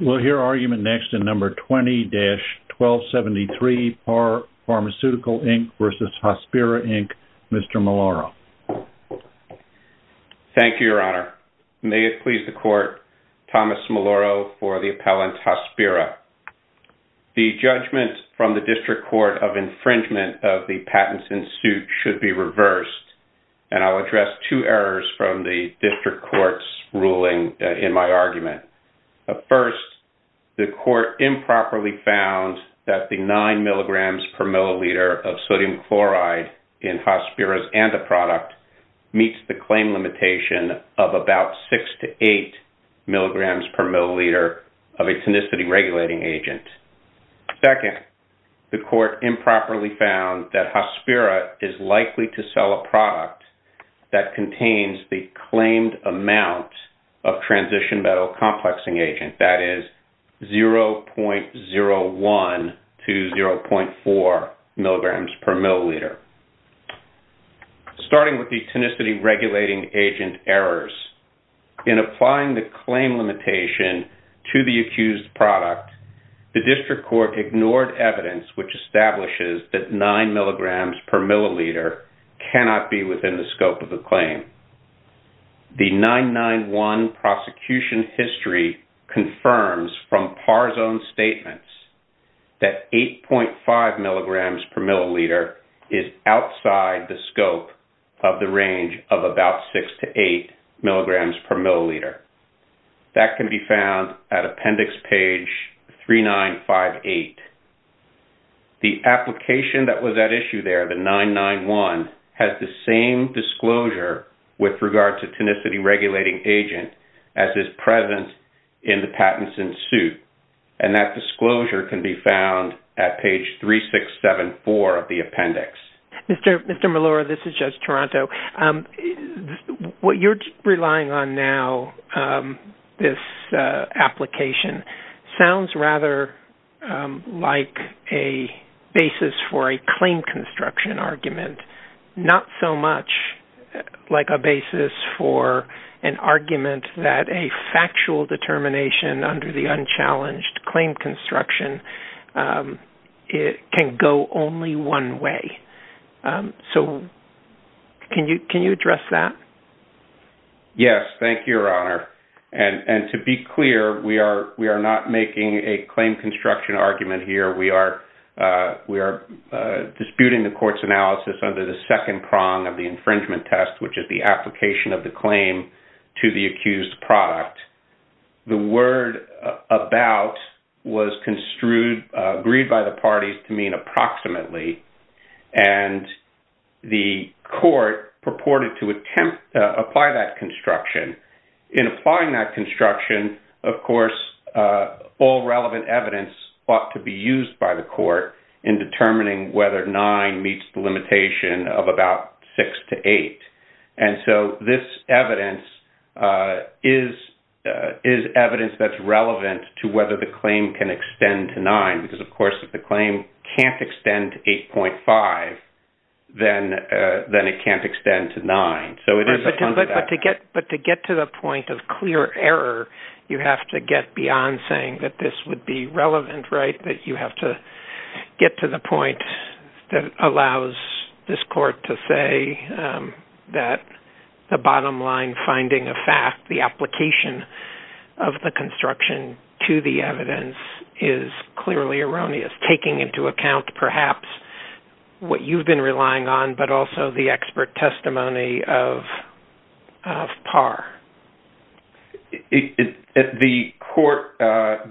We'll hear argument next in No. 20-1273, Pharmaceutical, Inc. v. Hospira, Inc., Mr. Maloro. Thank you, Your Honor. May it please the Court, Thomas Maloro for the appellant, Hospira. The judgment from the District Court of infringement of the patents in suit should be reversed, and I'll address two errors from the District Court's ruling in my argument. First, the Court improperly found that the 9 mg per milliliter of sodium chloride in Hospira's antiproduct meets the claim limitation of about 6 to 8 mg per milliliter of a tenacity regulating agent. Second, the Court improperly found that Hospira is likely to sell a product that contains the claimed amount of transition metal complexing agent, that is, 0.01 to 0.4 mg per milliliter. Starting with the tenacity regulating agent errors, in applying the claim limitation to the accused product, the District Court ignored evidence which establishes that 9 mg per milliliter cannot be within the scope of the claim. The 991 prosecution history confirms from par zone statements that 8.5 mg per milliliter is outside the scope of the range of about 6 to 8 mg per milliliter. That can be found at appendix page 3958. The application that was at issue there, the 991, has the same disclosure with regard to tenacity regulating agent as is present in the patents in suit, and that disclosure can be found at page 3674 of the appendix. Mr. Melora, this is Judge Toronto. What you're relying on now, this application, sounds rather like a basis for a claim construction argument, not so much like a basis for an argument that a factual determination under the unchallenged claim construction can go only one way. So can you address that? Yes, thank you, Your Honor. And to be clear, we are not making a claim construction argument here. We are disputing the court's analysis under the second prong of the infringement test, which is the application of the claim to the accused product. The word about was agreed by the parties to mean approximately, and the court purported to apply that construction. In applying that construction, of course, all relevant evidence ought to be used by the court in determining whether 9 meets the limitation of about 6 to 8. And so this evidence is evidence that's relevant to whether the claim can extend to 9, because, of course, if the claim can't extend to 8.5, then it can't extend to 9. But to get to the point of clear error, you have to get beyond saying that this would be relevant, right? You have to get to the point that allows this court to say that the bottom line finding of fact, the application of the construction to the evidence is clearly erroneous, taking into account perhaps what you've been relying on, but also the expert testimony of Parr. The court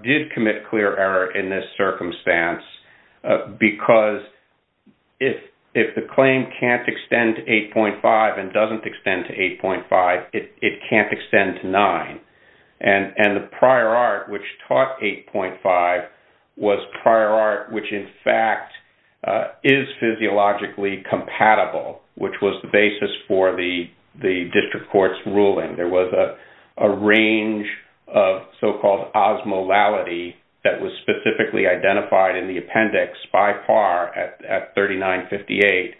did commit clear error in this circumstance, because if the claim can't extend to 8.5 and doesn't extend to 8.5, it can't extend to 9. And the prior art, which taught 8.5, was prior art which, in fact, is physiologically compatible, which was the basis for the district court's ruling. There was a range of so-called osmolality that was specifically identified in the appendix by Parr at 3958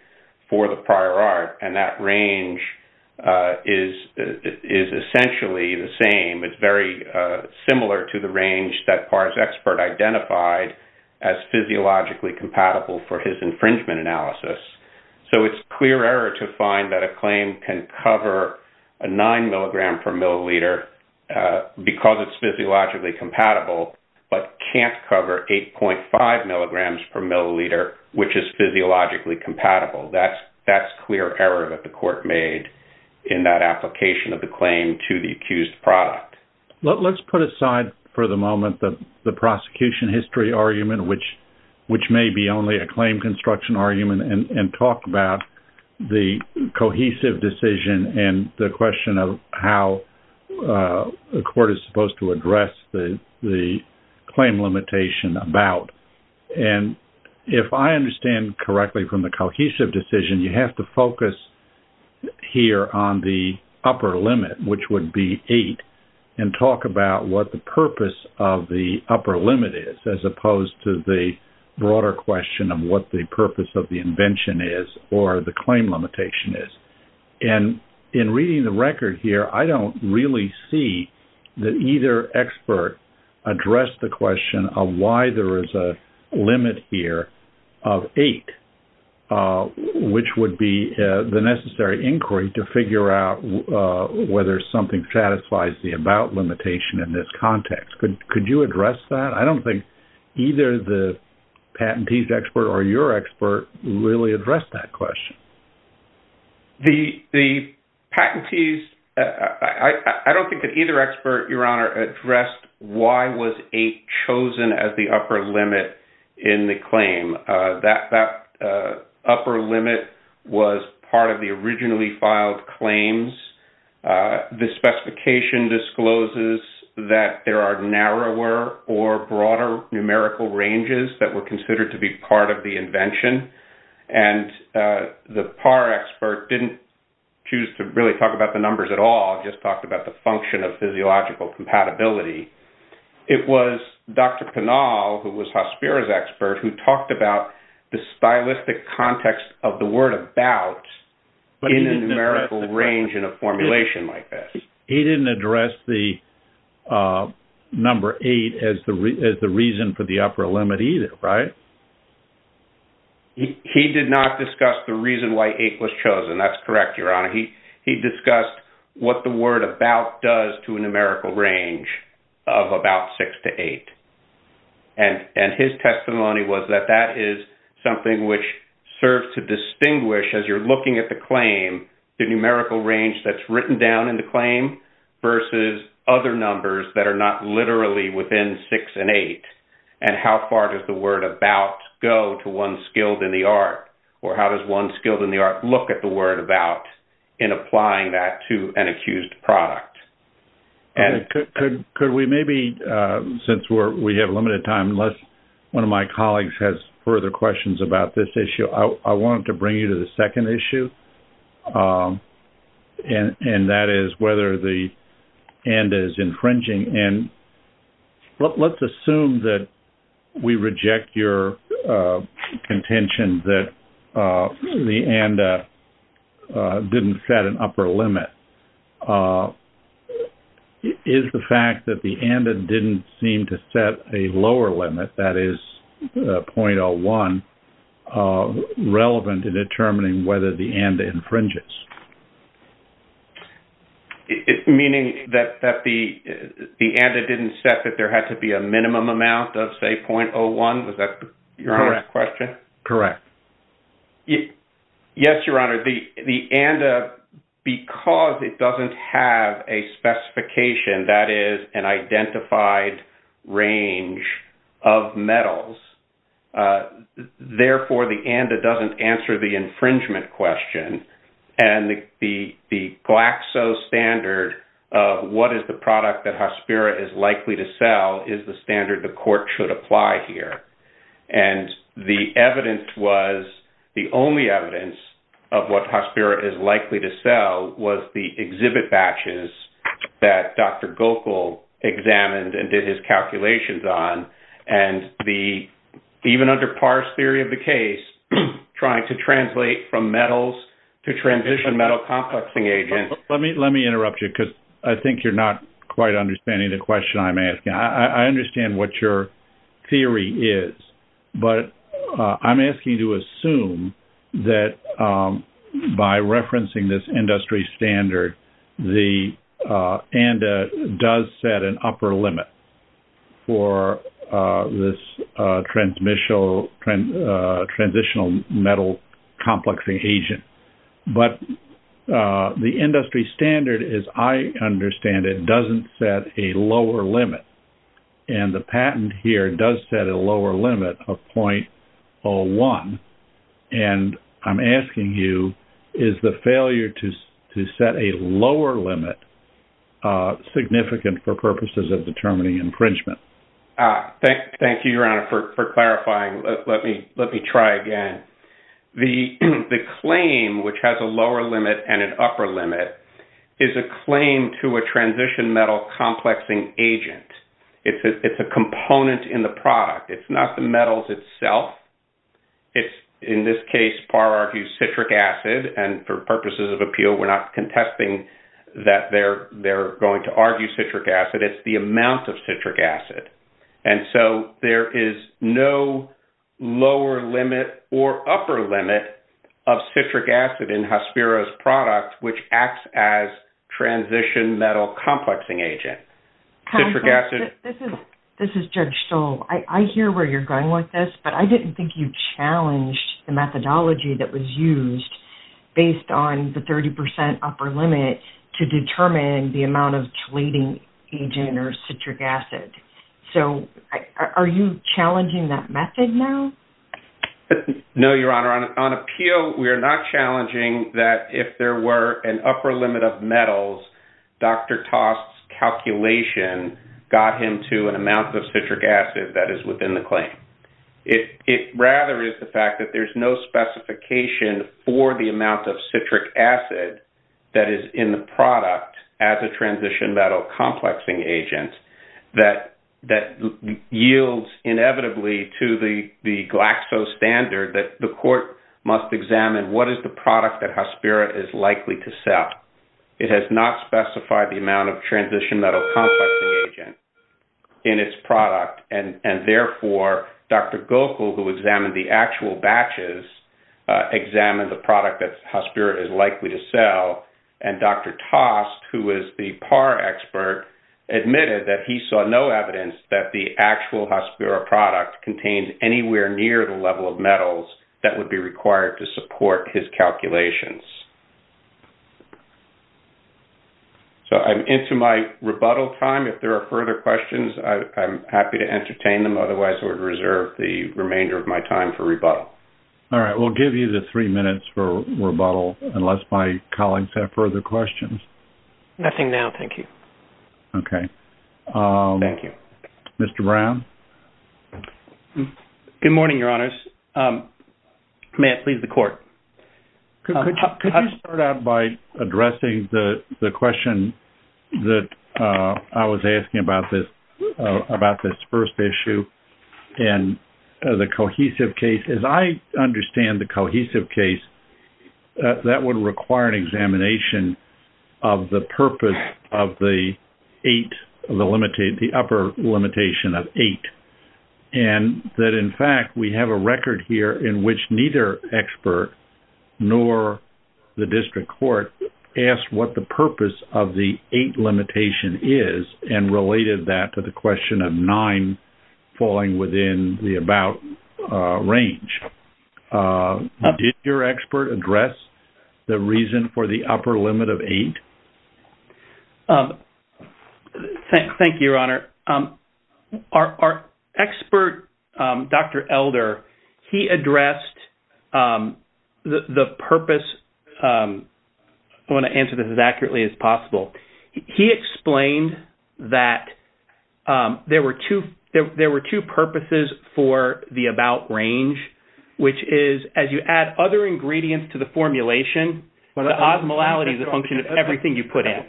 for the prior art. And that range is essentially the same. It's very similar to the range that Parr's expert identified as physiologically compatible for his infringement analysis. So it's clear error to find that a claim can cover a 9 milligram per milliliter because it's physiologically compatible, but can't cover 8.5 milligrams per milliliter, which is physiologically compatible. That's clear error that the court made in that application of the claim to the accused product. Let's put aside for the moment the prosecution history argument, which may be only a claim construction argument, and talk about the cohesive decision and the question of how the court is supposed to address the claim limitation about. And if I understand correctly from the cohesive decision, you have to focus here on the upper limit, which would be 8, and talk about what the purpose of the upper limit is, as opposed to the broader question of what the purpose of the invention is or the claim limitation is. And in reading the record here, I don't really see that either expert addressed the question of why there is a limit here of 8, which would be the necessary inquiry to figure out whether something satisfies the about limitation in this context. Could you address that? I don't think either the patentees expert or your expert really addressed that question. The patentees, I don't think that either expert, Your Honor, addressed why was 8 chosen as the upper limit in the claim. That upper limit was part of the originally filed claims. The specification discloses that there are narrower or broader numerical ranges that were considered to be part of the invention. And the PAR expert didn't choose to really talk about the numbers at all, just talked about the function of physiological compatibility. It was Dr. Pinal, who was Hospira's expert, who talked about the stylistic context of the word about in a numerical range in a formulation like this. He didn't address the number 8 as the reason for the upper limit either, right? He did not discuss the reason why 8 was chosen. That's correct, Your Honor. He discussed what the word about does to a numerical range of about 6 to 8. And his testimony was that that is something which serves to distinguish, as you're looking at the claim, the numerical range that's written down in the claim versus other numbers that are not literally within 6 and 8, and how far does the word about go to one skilled in the art? Or how does one skilled in the art look at the word about in applying that to an accused product? Could we maybe, since we have limited time, unless one of my colleagues has further questions about this issue, I wanted to bring you to the second issue, and that is whether the and is infringing. And let's assume that we reject your contention that the and didn't set an upper limit. Is the fact that the and didn't seem to set a lower limit, that is 0.01, relevant in determining whether the and infringes? Meaning that the and didn't set that there had to be a minimum amount of, say, 0.01? Was that Your Honor's question? Correct. Yes, Your Honor. The and, because it doesn't have a specification that is an identified range of metals, therefore the and doesn't answer the infringement question. And the Glaxo standard of what is the product that Hospira is likely to sell is the standard the court should apply here. And the evidence was, the only evidence of what Hospira is likely to sell was the exhibit batches that Dr. Gokel examined and did his calculations on. And even under Parr's theory of the case, trying to translate from metals to transition metal complexing agents. Let me interrupt you because I think you're not quite understanding the question I'm asking. I understand what your theory is, but I'm asking you to assume that by referencing this industry standard, the and does set an upper limit for this transitional metal complexing agent. But the industry standard, as I understand it, doesn't set a lower limit, and the patent here does set a lower limit of 0.01. And I'm asking you, is the failure to set a lower limit significant for purposes of determining infringement? Thank you, Your Honor, for clarifying. Let me try again. The claim, which has a lower limit and an upper limit, is a claim to a transition metal complexing agent. It's a component in the product. It's not the metals itself. It's, in this case, Parr argues, citric acid. And for purposes of appeal, we're not contesting that they're going to argue citric acid. It's the amount of citric acid. And so there is no lower limit or upper limit of citric acid in Hospira's product, which acts as transition metal complexing agent. This is Judge Stoll. I hear where you're going with this, but I didn't think you challenged the methodology that was used based on the 30 percent upper limit to determine the amount of chelating agent or citric acid. So are you challenging that method now? No, Your Honor. On appeal, we are not challenging that if there were an upper limit of metals, Dr. Tost's calculation got him to an amount of citric acid that is within the claim. It rather is the fact that there's no specification for the amount of citric acid that is in the product as a transition metal complexing agent that yields inevitably to the Glaxo standard that the court must examine what is the product that Hospira is likely to sell. It has not specified the amount of transition metal complexing agent in its product, and therefore, Dr. Gokul, who examined the actual batches, examined the product that Hospira is likely to sell. And Dr. Tost, who is the PAR expert, admitted that he saw no evidence that the actual Hospira product contained anywhere near the level of metals that would be required to support his calculations. So I'm into my rebuttal time. If there are further questions, I'm happy to entertain them. Otherwise, I would reserve the remainder of my time for rebuttal. All right. We'll give you the three minutes for rebuttal unless my colleagues have further questions. Nothing now, thank you. Okay. Thank you. Mr. Brown? Good morning, Your Honors. May I please the court? Could you start out by addressing the question that I was asking about this first issue and the cohesive case? As I understand the cohesive case, that would require an examination of the purpose of the eight, the upper limitation of eight. And that, in fact, we have a record here in which neither expert nor the district court asked what the purpose of the eight limitation is and related that to the question of nine falling within the about range. Did your expert address the reason for the upper limit of eight? Our expert, Dr. Elder, he addressed the purpose. I want to answer this as accurately as possible. He explained that there were two purposes for the about range, which is as you add other ingredients to the formulation, the osmolality is a function of everything you put in.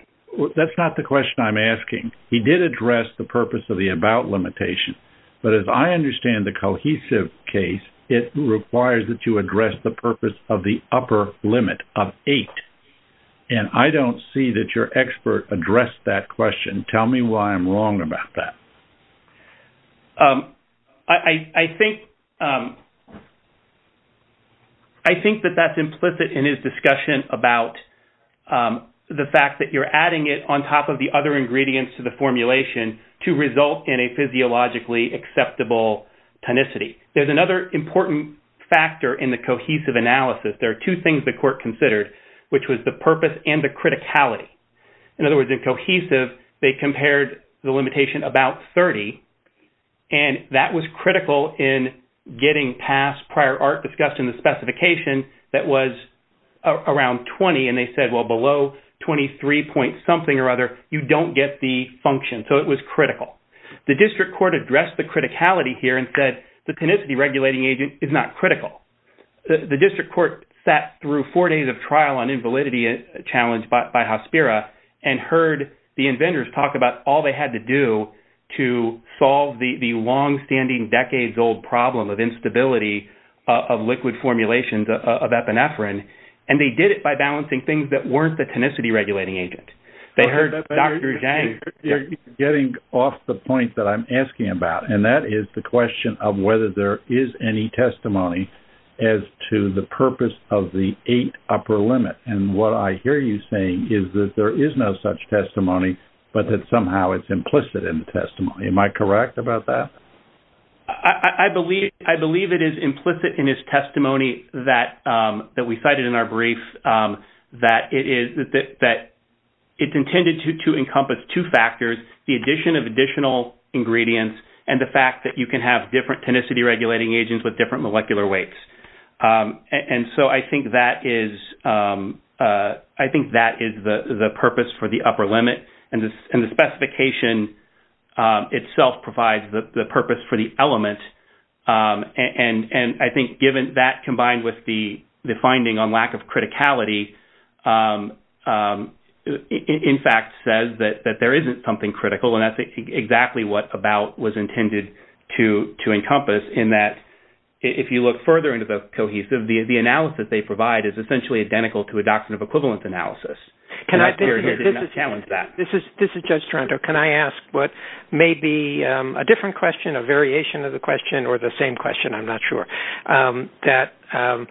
That's not the question I'm asking. He did address the purpose of the about limitation, but as I understand the cohesive case, it requires that you address the purpose of the upper limit of eight. And I don't see that your expert addressed that question. Tell me why I'm wrong about that. I think that that's implicit in his discussion about the fact that you're adding it on top of the other ingredients to the formulation to result in a physiologically acceptable tonicity. There's another important factor in the cohesive analysis. There are two things the court considered, which was the purpose and the criticality. In other words, in cohesive, they compared the limitation about 30, and that was critical in getting past prior art discussed in the specification that was around 20. And they said, well, below 23 point something or other, you don't get the function. So it was critical. The district court addressed the criticality here and said the tonicity regulating agent is not critical. The district court sat through four days of trial on invalidity challenge by Hospira and heard the inventors talk about all they had to do to solve the longstanding decades old problem of instability of liquid formulations of epinephrine. And they did it by balancing things that weren't the tonicity regulating agent. You're getting off the point that I'm asking about, and that is the question of whether there is any testimony as to the purpose of the eight upper limit. And what I hear you saying is that there is no such testimony, but that somehow it's implicit in the testimony. Am I correct about that? I believe it is implicit in his testimony that we cited in our brief that it's intended to encompass two factors, the addition of additional ingredients and the fact that you can have different tonicity regulating agents with different molecular weights. And so I think that is the purpose for the upper limit, and the specification itself provides the purpose for the element. And I think given that combined with the finding on lack of criticality, in fact, says that there isn't something critical. And that's exactly what about was intended to encompass in that if you look further into the cohesive, the analysis they provide is essentially identical to a doctrine of equivalent analysis. Can I challenge that? This is Judge Toronto. Can I ask what may be a different question, a variation of the question, or the same question? I'm not sure. That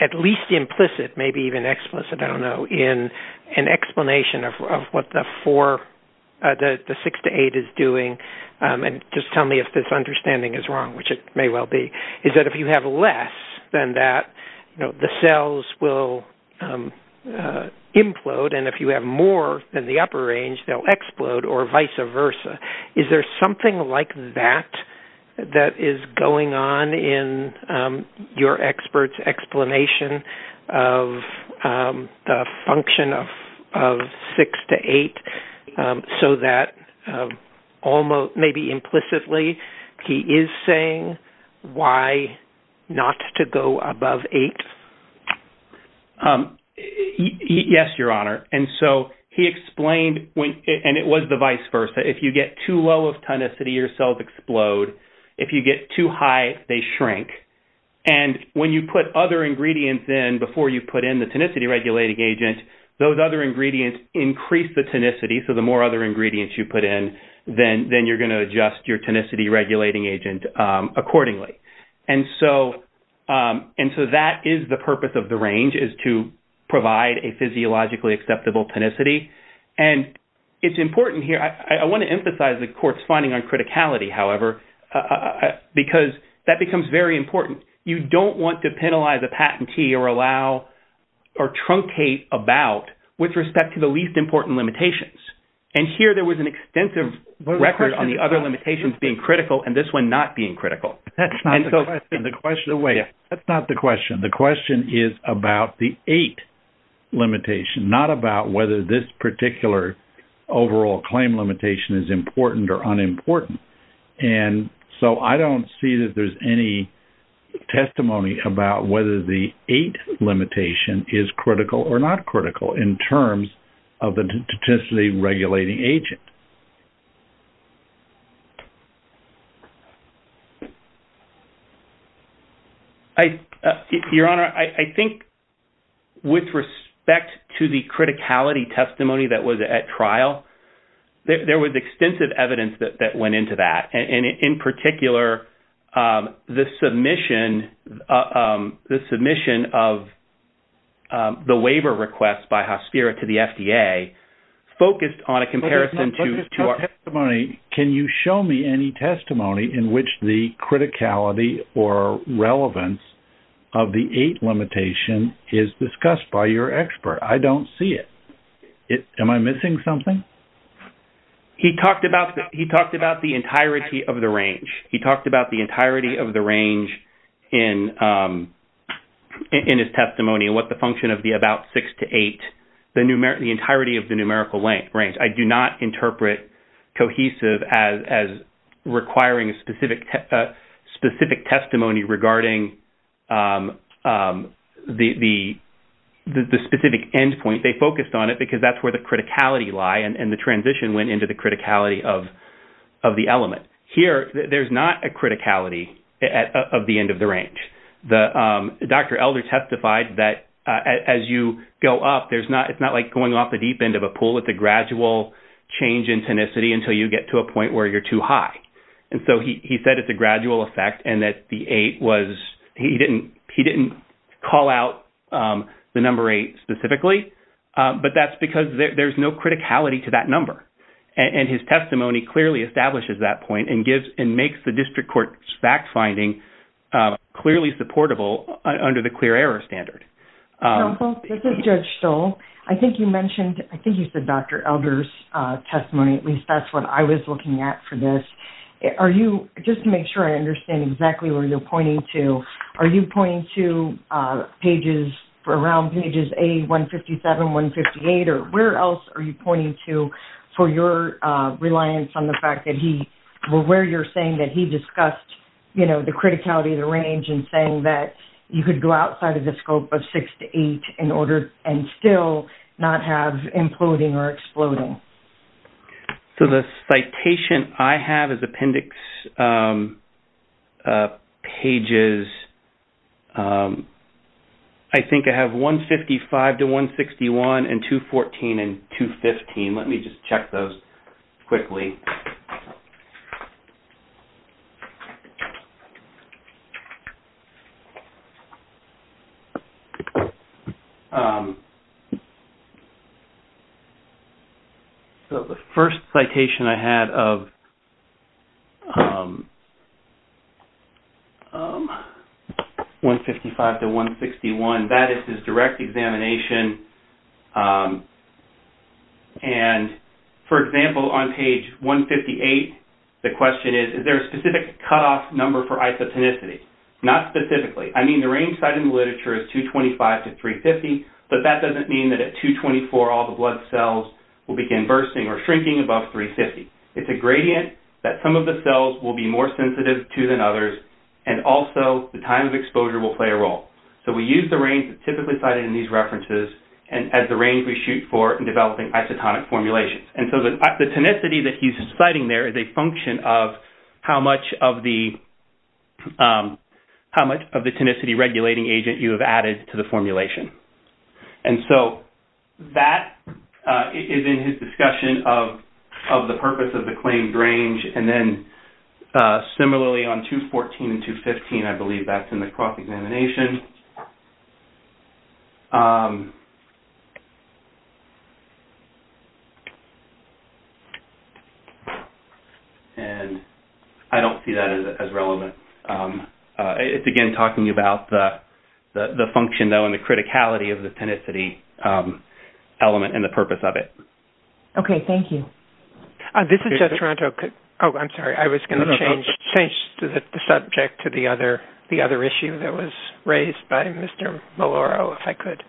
at least implicit, maybe even explicit, I don't know, in an explanation of what the six to eight is doing, and just tell me if this understanding is wrong, which it may well be, is that if you have less than that, the cells will implode, and if you have more than the upper range, they'll explode, or vice versa. Is there something like that that is going on in your expert's explanation of the function of six to eight, so that maybe implicitly he is saying why not to go above eight? Yes, Your Honor. And so he explained, and it was the vice versa, if you get too low of tenacity, your cells explode. If you get too high, they shrink. And when you put other ingredients in before you put in the tenacity regulating agent, those other ingredients increase the tenacity. So the more other ingredients you put in, then you're going to adjust your tenacity regulating agent accordingly. And so that is the purpose of the range, is to provide a physiologically acceptable tenacity. And it's important here, I want to emphasize the court's finding on criticality, however, because that becomes very important. You don't want to penalize a patentee or allow or truncate about with respect to the least important limitations. And here there was an extensive record on the other limitations being critical and this one not being critical. That's not the question. The question is about the eight limitation, not about whether this particular overall claim limitation is important or unimportant. And so I don't see that there's any testimony about whether the eight limitation is critical or not critical in terms of the tenacity regulating agent. Your Honor, I think with respect to the criticality testimony that was at trial, there was extensive evidence that went into that. And in particular, the submission of the waiver request by Hospira to the FDA focused on a comparison to our- Can you show me any testimony in which the criticality or relevance of the eight limitation is discussed by your expert? I don't see it. Am I missing something? He talked about the entirety of the range. He talked about the entirety of the range in his testimony and what the function of the about six to eight, the entirety of the numerical range. I do not interpret cohesive as requiring a specific testimony regarding the specific endpoint. I think they focused on it because that's where the criticality lie and the transition went into the criticality of the element. Here, there's not a criticality of the end of the range. Dr. Elder testified that as you go up, it's not like going off the deep end of a pool. It's a gradual change in tenacity until you get to a point where you're too high. He said it's a gradual effect and that he didn't call out the number eight specifically, but that's because there's no criticality to that number. His testimony clearly establishes that point and makes the district court's fact-finding clearly supportable under the clear error standard. This is Judge Stoll. I think you mentioned, I think you said Dr. Elder's testimony, at least that's what I was looking at for this. Just to make sure I understand exactly where you're pointing to, are you pointing to pages, around pages A157, 158, or where else are you pointing to for your reliance on the fact that he, or where you're saying that he discussed, you know, the criticality of the range and saying that you could go outside of the scope of six to eight in order, and still not have imploding or exploding? So, the citation I have is appendix pages, I think I have 155 to 161 and 214 and 215. Let me just check those quickly. So, the first citation I had of 155 to 161, that is his direct examination. And, for example, on page 158, the question is, is there a specific cutoff number for isotonicity? Not specifically. I mean, the range cited in the literature is 225 to 350, but that doesn't mean that at 224 all the blood cells will begin bursting or shrinking above 350. It's a gradient that some of the cells will be more sensitive to than others, and also the time of exposure will play a role. So, we use the range that's typically cited in these references as the range we shoot for in developing isotonic formulations. And so, the tonicity that he's citing there is a function of how much of the tonicity regulating agent you have added to the formulation. And so, that is in his discussion of the purpose of the claimed range. And then, similarly, on 214 and 215, I believe that's in the cross-examination. And I don't see that as relevant. It's, again, talking about the function, though, and the criticality of the tonicity element and the purpose of it. Okay. Thank you. This is Jeff Toronto. Oh, I'm sorry. I was going to change the subject to the other issue that was raised by Mr. Maloro, if I could.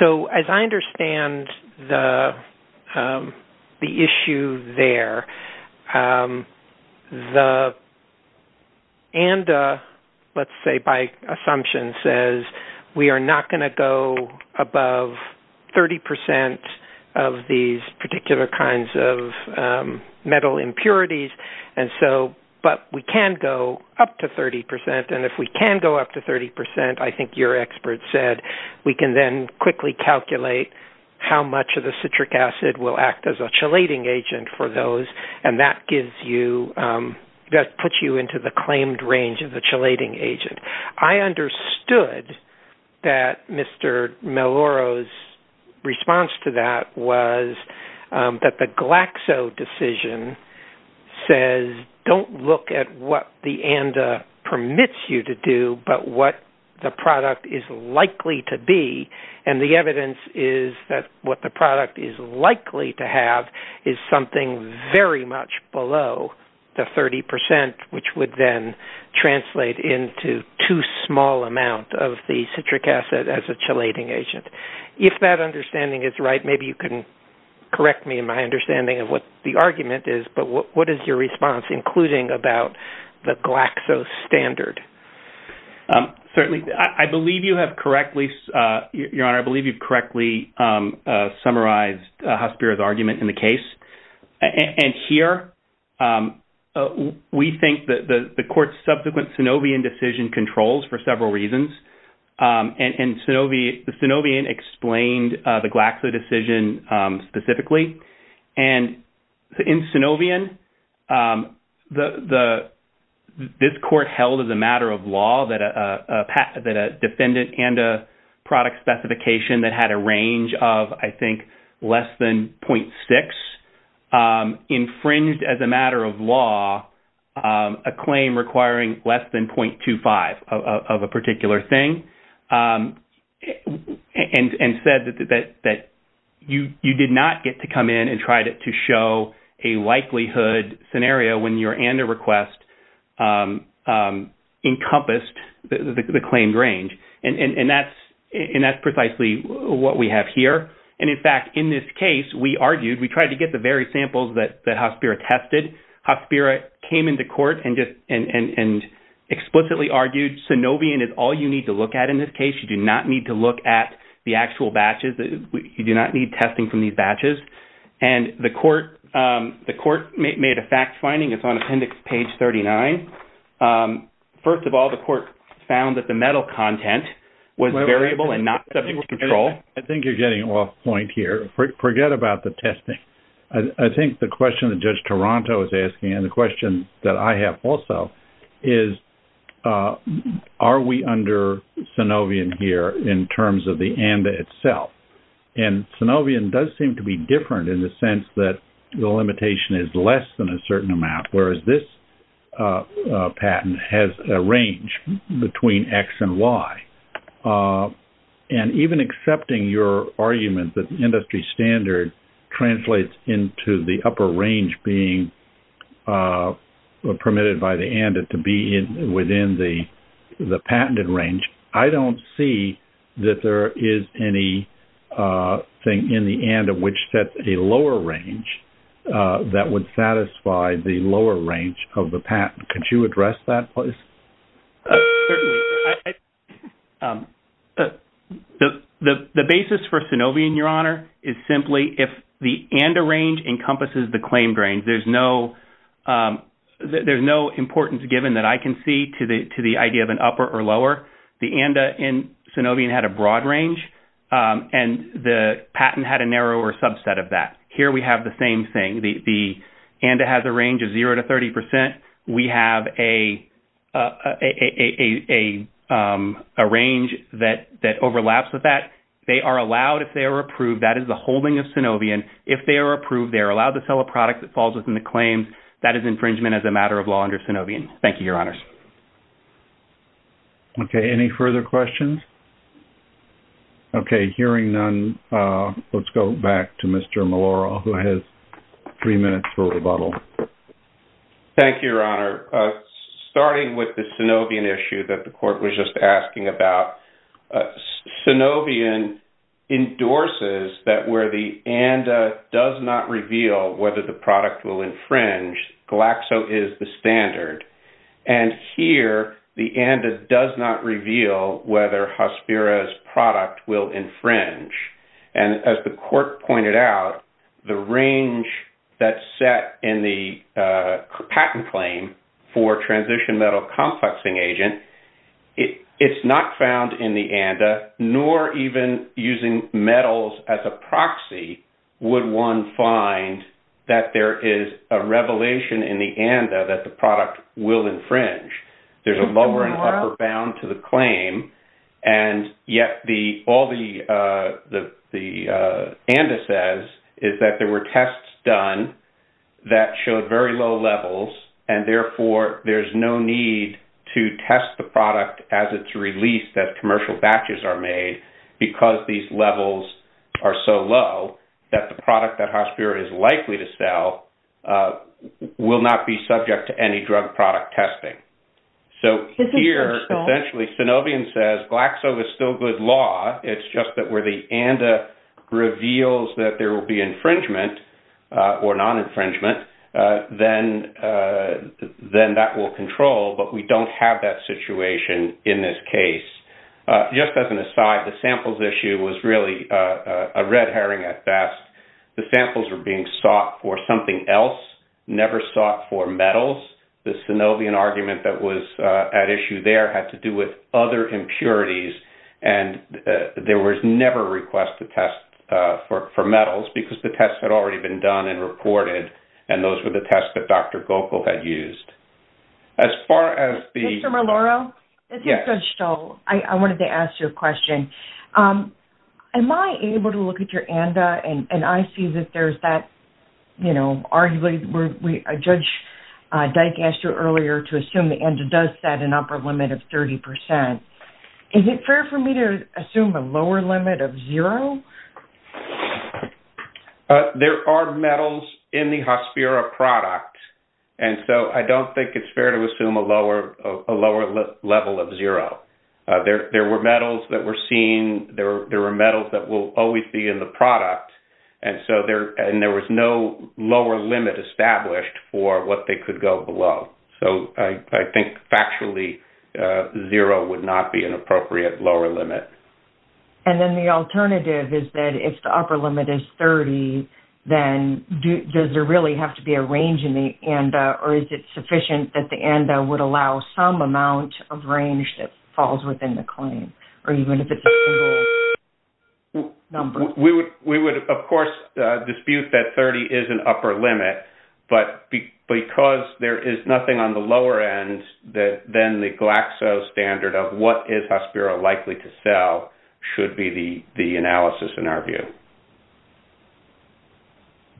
So, as I understand the issue there, the ANDA, let's say by assumption, says we are not going to go above 30 percent of these particular kinds of metal impurities, but we can go up to 30 percent, and if we can go up to 30 percent, I think your expert said, we can then quickly calculate how much of the citric acid will act as a chelating agent for those, and that puts you into the claimed range of the chelating agent. I understood that Mr. Maloro's response to that was that the Glaxo decision says, don't look at what the ANDA permits you to do, but what the product is likely to be, and the evidence is that what the product is likely to have is something very much below the 30 percent, which would then translate into too small amount of the citric acid as a chelating agent. If that understanding is right, maybe you can correct me in my understanding of what the argument is, but what is your response, including about the Glaxo standard? Certainly, I believe you have correctly, Your Honor, I believe you've correctly summarized Hasbiro's argument in the case, and here we think that the court's subsequent Synovian decision controls for several reasons, and the Synovian explained the Glaxo decision specifically, and in Synovian, this court held as a matter of law that a defendant and a product specification that had a range of, I think, less than .6 infringed as a matter of law a claim requiring less than .25 of a particular thing, and said that you did not get to come in and try to show a likelihood scenario when your ANDA request encompassed the claimed range, and that's precisely what we have here, and in fact, in this case, we argued, we tried to get the very samples that Hasbiro tested. Hasbiro came into court and explicitly argued Synovian is all you need to look at in this case. You do not need to look at the actual batches. You do not need testing from these batches, and the court made a fact finding. It's on appendix page 39. First of all, the court found that the metal content was variable and not subject to control. I think you're getting off point here. Forget about the testing. I think the question that Judge Toronto is asking, and the question that I have also, is are we under Synovian here in terms of the ANDA itself, and Synovian does seem to be different in the sense that the limitation is less than a certain amount, whereas this patent has a range between X and Y, and even accepting your argument that the industry standard translates into the upper range being permitted by the ANDA to be within the patented range, I don't see that there is anything in the ANDA which sets a lower range that would satisfy the lower range of the patent. Could you address that, please? Certainly. The basis for Synovian, Your Honor, is simply if the ANDA range encompasses the claimed range. There's no importance given that I can see to the idea of an upper or lower. The ANDA in Synovian had a broad range, and the patent had a narrower subset of that. Here we have the same thing. The ANDA has a range of 0 to 30%. We have a range that overlaps with that. They are allowed if they are approved. That is the holding of Synovian. If they are approved, they are allowed to sell a product that falls within the claims. That is infringement as a matter of law under Synovian. Thank you, Your Honors. Okay, any further questions? Okay, hearing none, let's go back to Mr. Malora, who has three minutes for rebuttal. Thank you, Your Honor. Starting with the Synovian issue that the court was just asking about, Synovian endorses that where the ANDA does not reveal whether the product will infringe, Glaxo is the standard. And here, the ANDA does not reveal whether Hospira's product will infringe. And as the court pointed out, the range that is set in the patent claim for transition metal complexing agent, it is not found in the ANDA, nor even using metals as a proxy would one find that there is a revelation in the ANDA that the product will infringe. There is a lower and upper bound to the claim, and yet all the ANDA says is that there were tests done that showed very low levels and, therefore, there's no need to test the product as it's released, that commercial batches are made, because these levels are so low that the product that Hospira is likely to sell will not be subject to any drug product testing. So here, essentially, Synovian says Glaxo is still good law, it's just that where the ANDA reveals that there will be infringement or non-infringement, then that will control, but we don't have that situation in this case. Just as an aside, the samples issue was really a red herring at best. The samples were being sought for something else, never sought for metals. The Synovian argument that was at issue there had to do with other impurities, and there was never a request to test for metals, because the tests had already been done and reported, and those were the tests that Dr. Gokel had used. As far as the – Mr. Maloro? Yes. This is Judge Stoll. I wanted to ask you a question. Am I able to look at your ANDA, and I see that there's that, you know, Judge Dyk asked you earlier to assume the ANDA does set an upper limit of 30%. Is it fair for me to assume a lower limit of zero? There are metals in the Hospiro product, and so I don't think it's fair to assume a lower level of zero. There were metals that were seen, there were metals that will always be in the product, and there was no lower limit established for what they could go below. So I think factually zero would not be an appropriate lower limit. And then the alternative is that if the upper limit is 30, then does there really have to be a range in the ANDA, or is it sufficient that the ANDA would allow some amount of range that falls within the claim, or even if it's a single number? We would, of course, dispute that 30 is an upper limit, but because there is nothing on the lower end, then the Glaxo standard of what is Hospiro likely to sell should be the analysis in our view.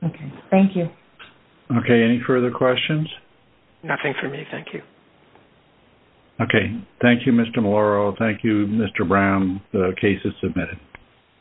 Okay. Thank you. Okay. Any further questions? Nothing for me. Thank you. Okay. Thank you, Mr. Maloro. Thank you, Mr. Brown. The case is submitted.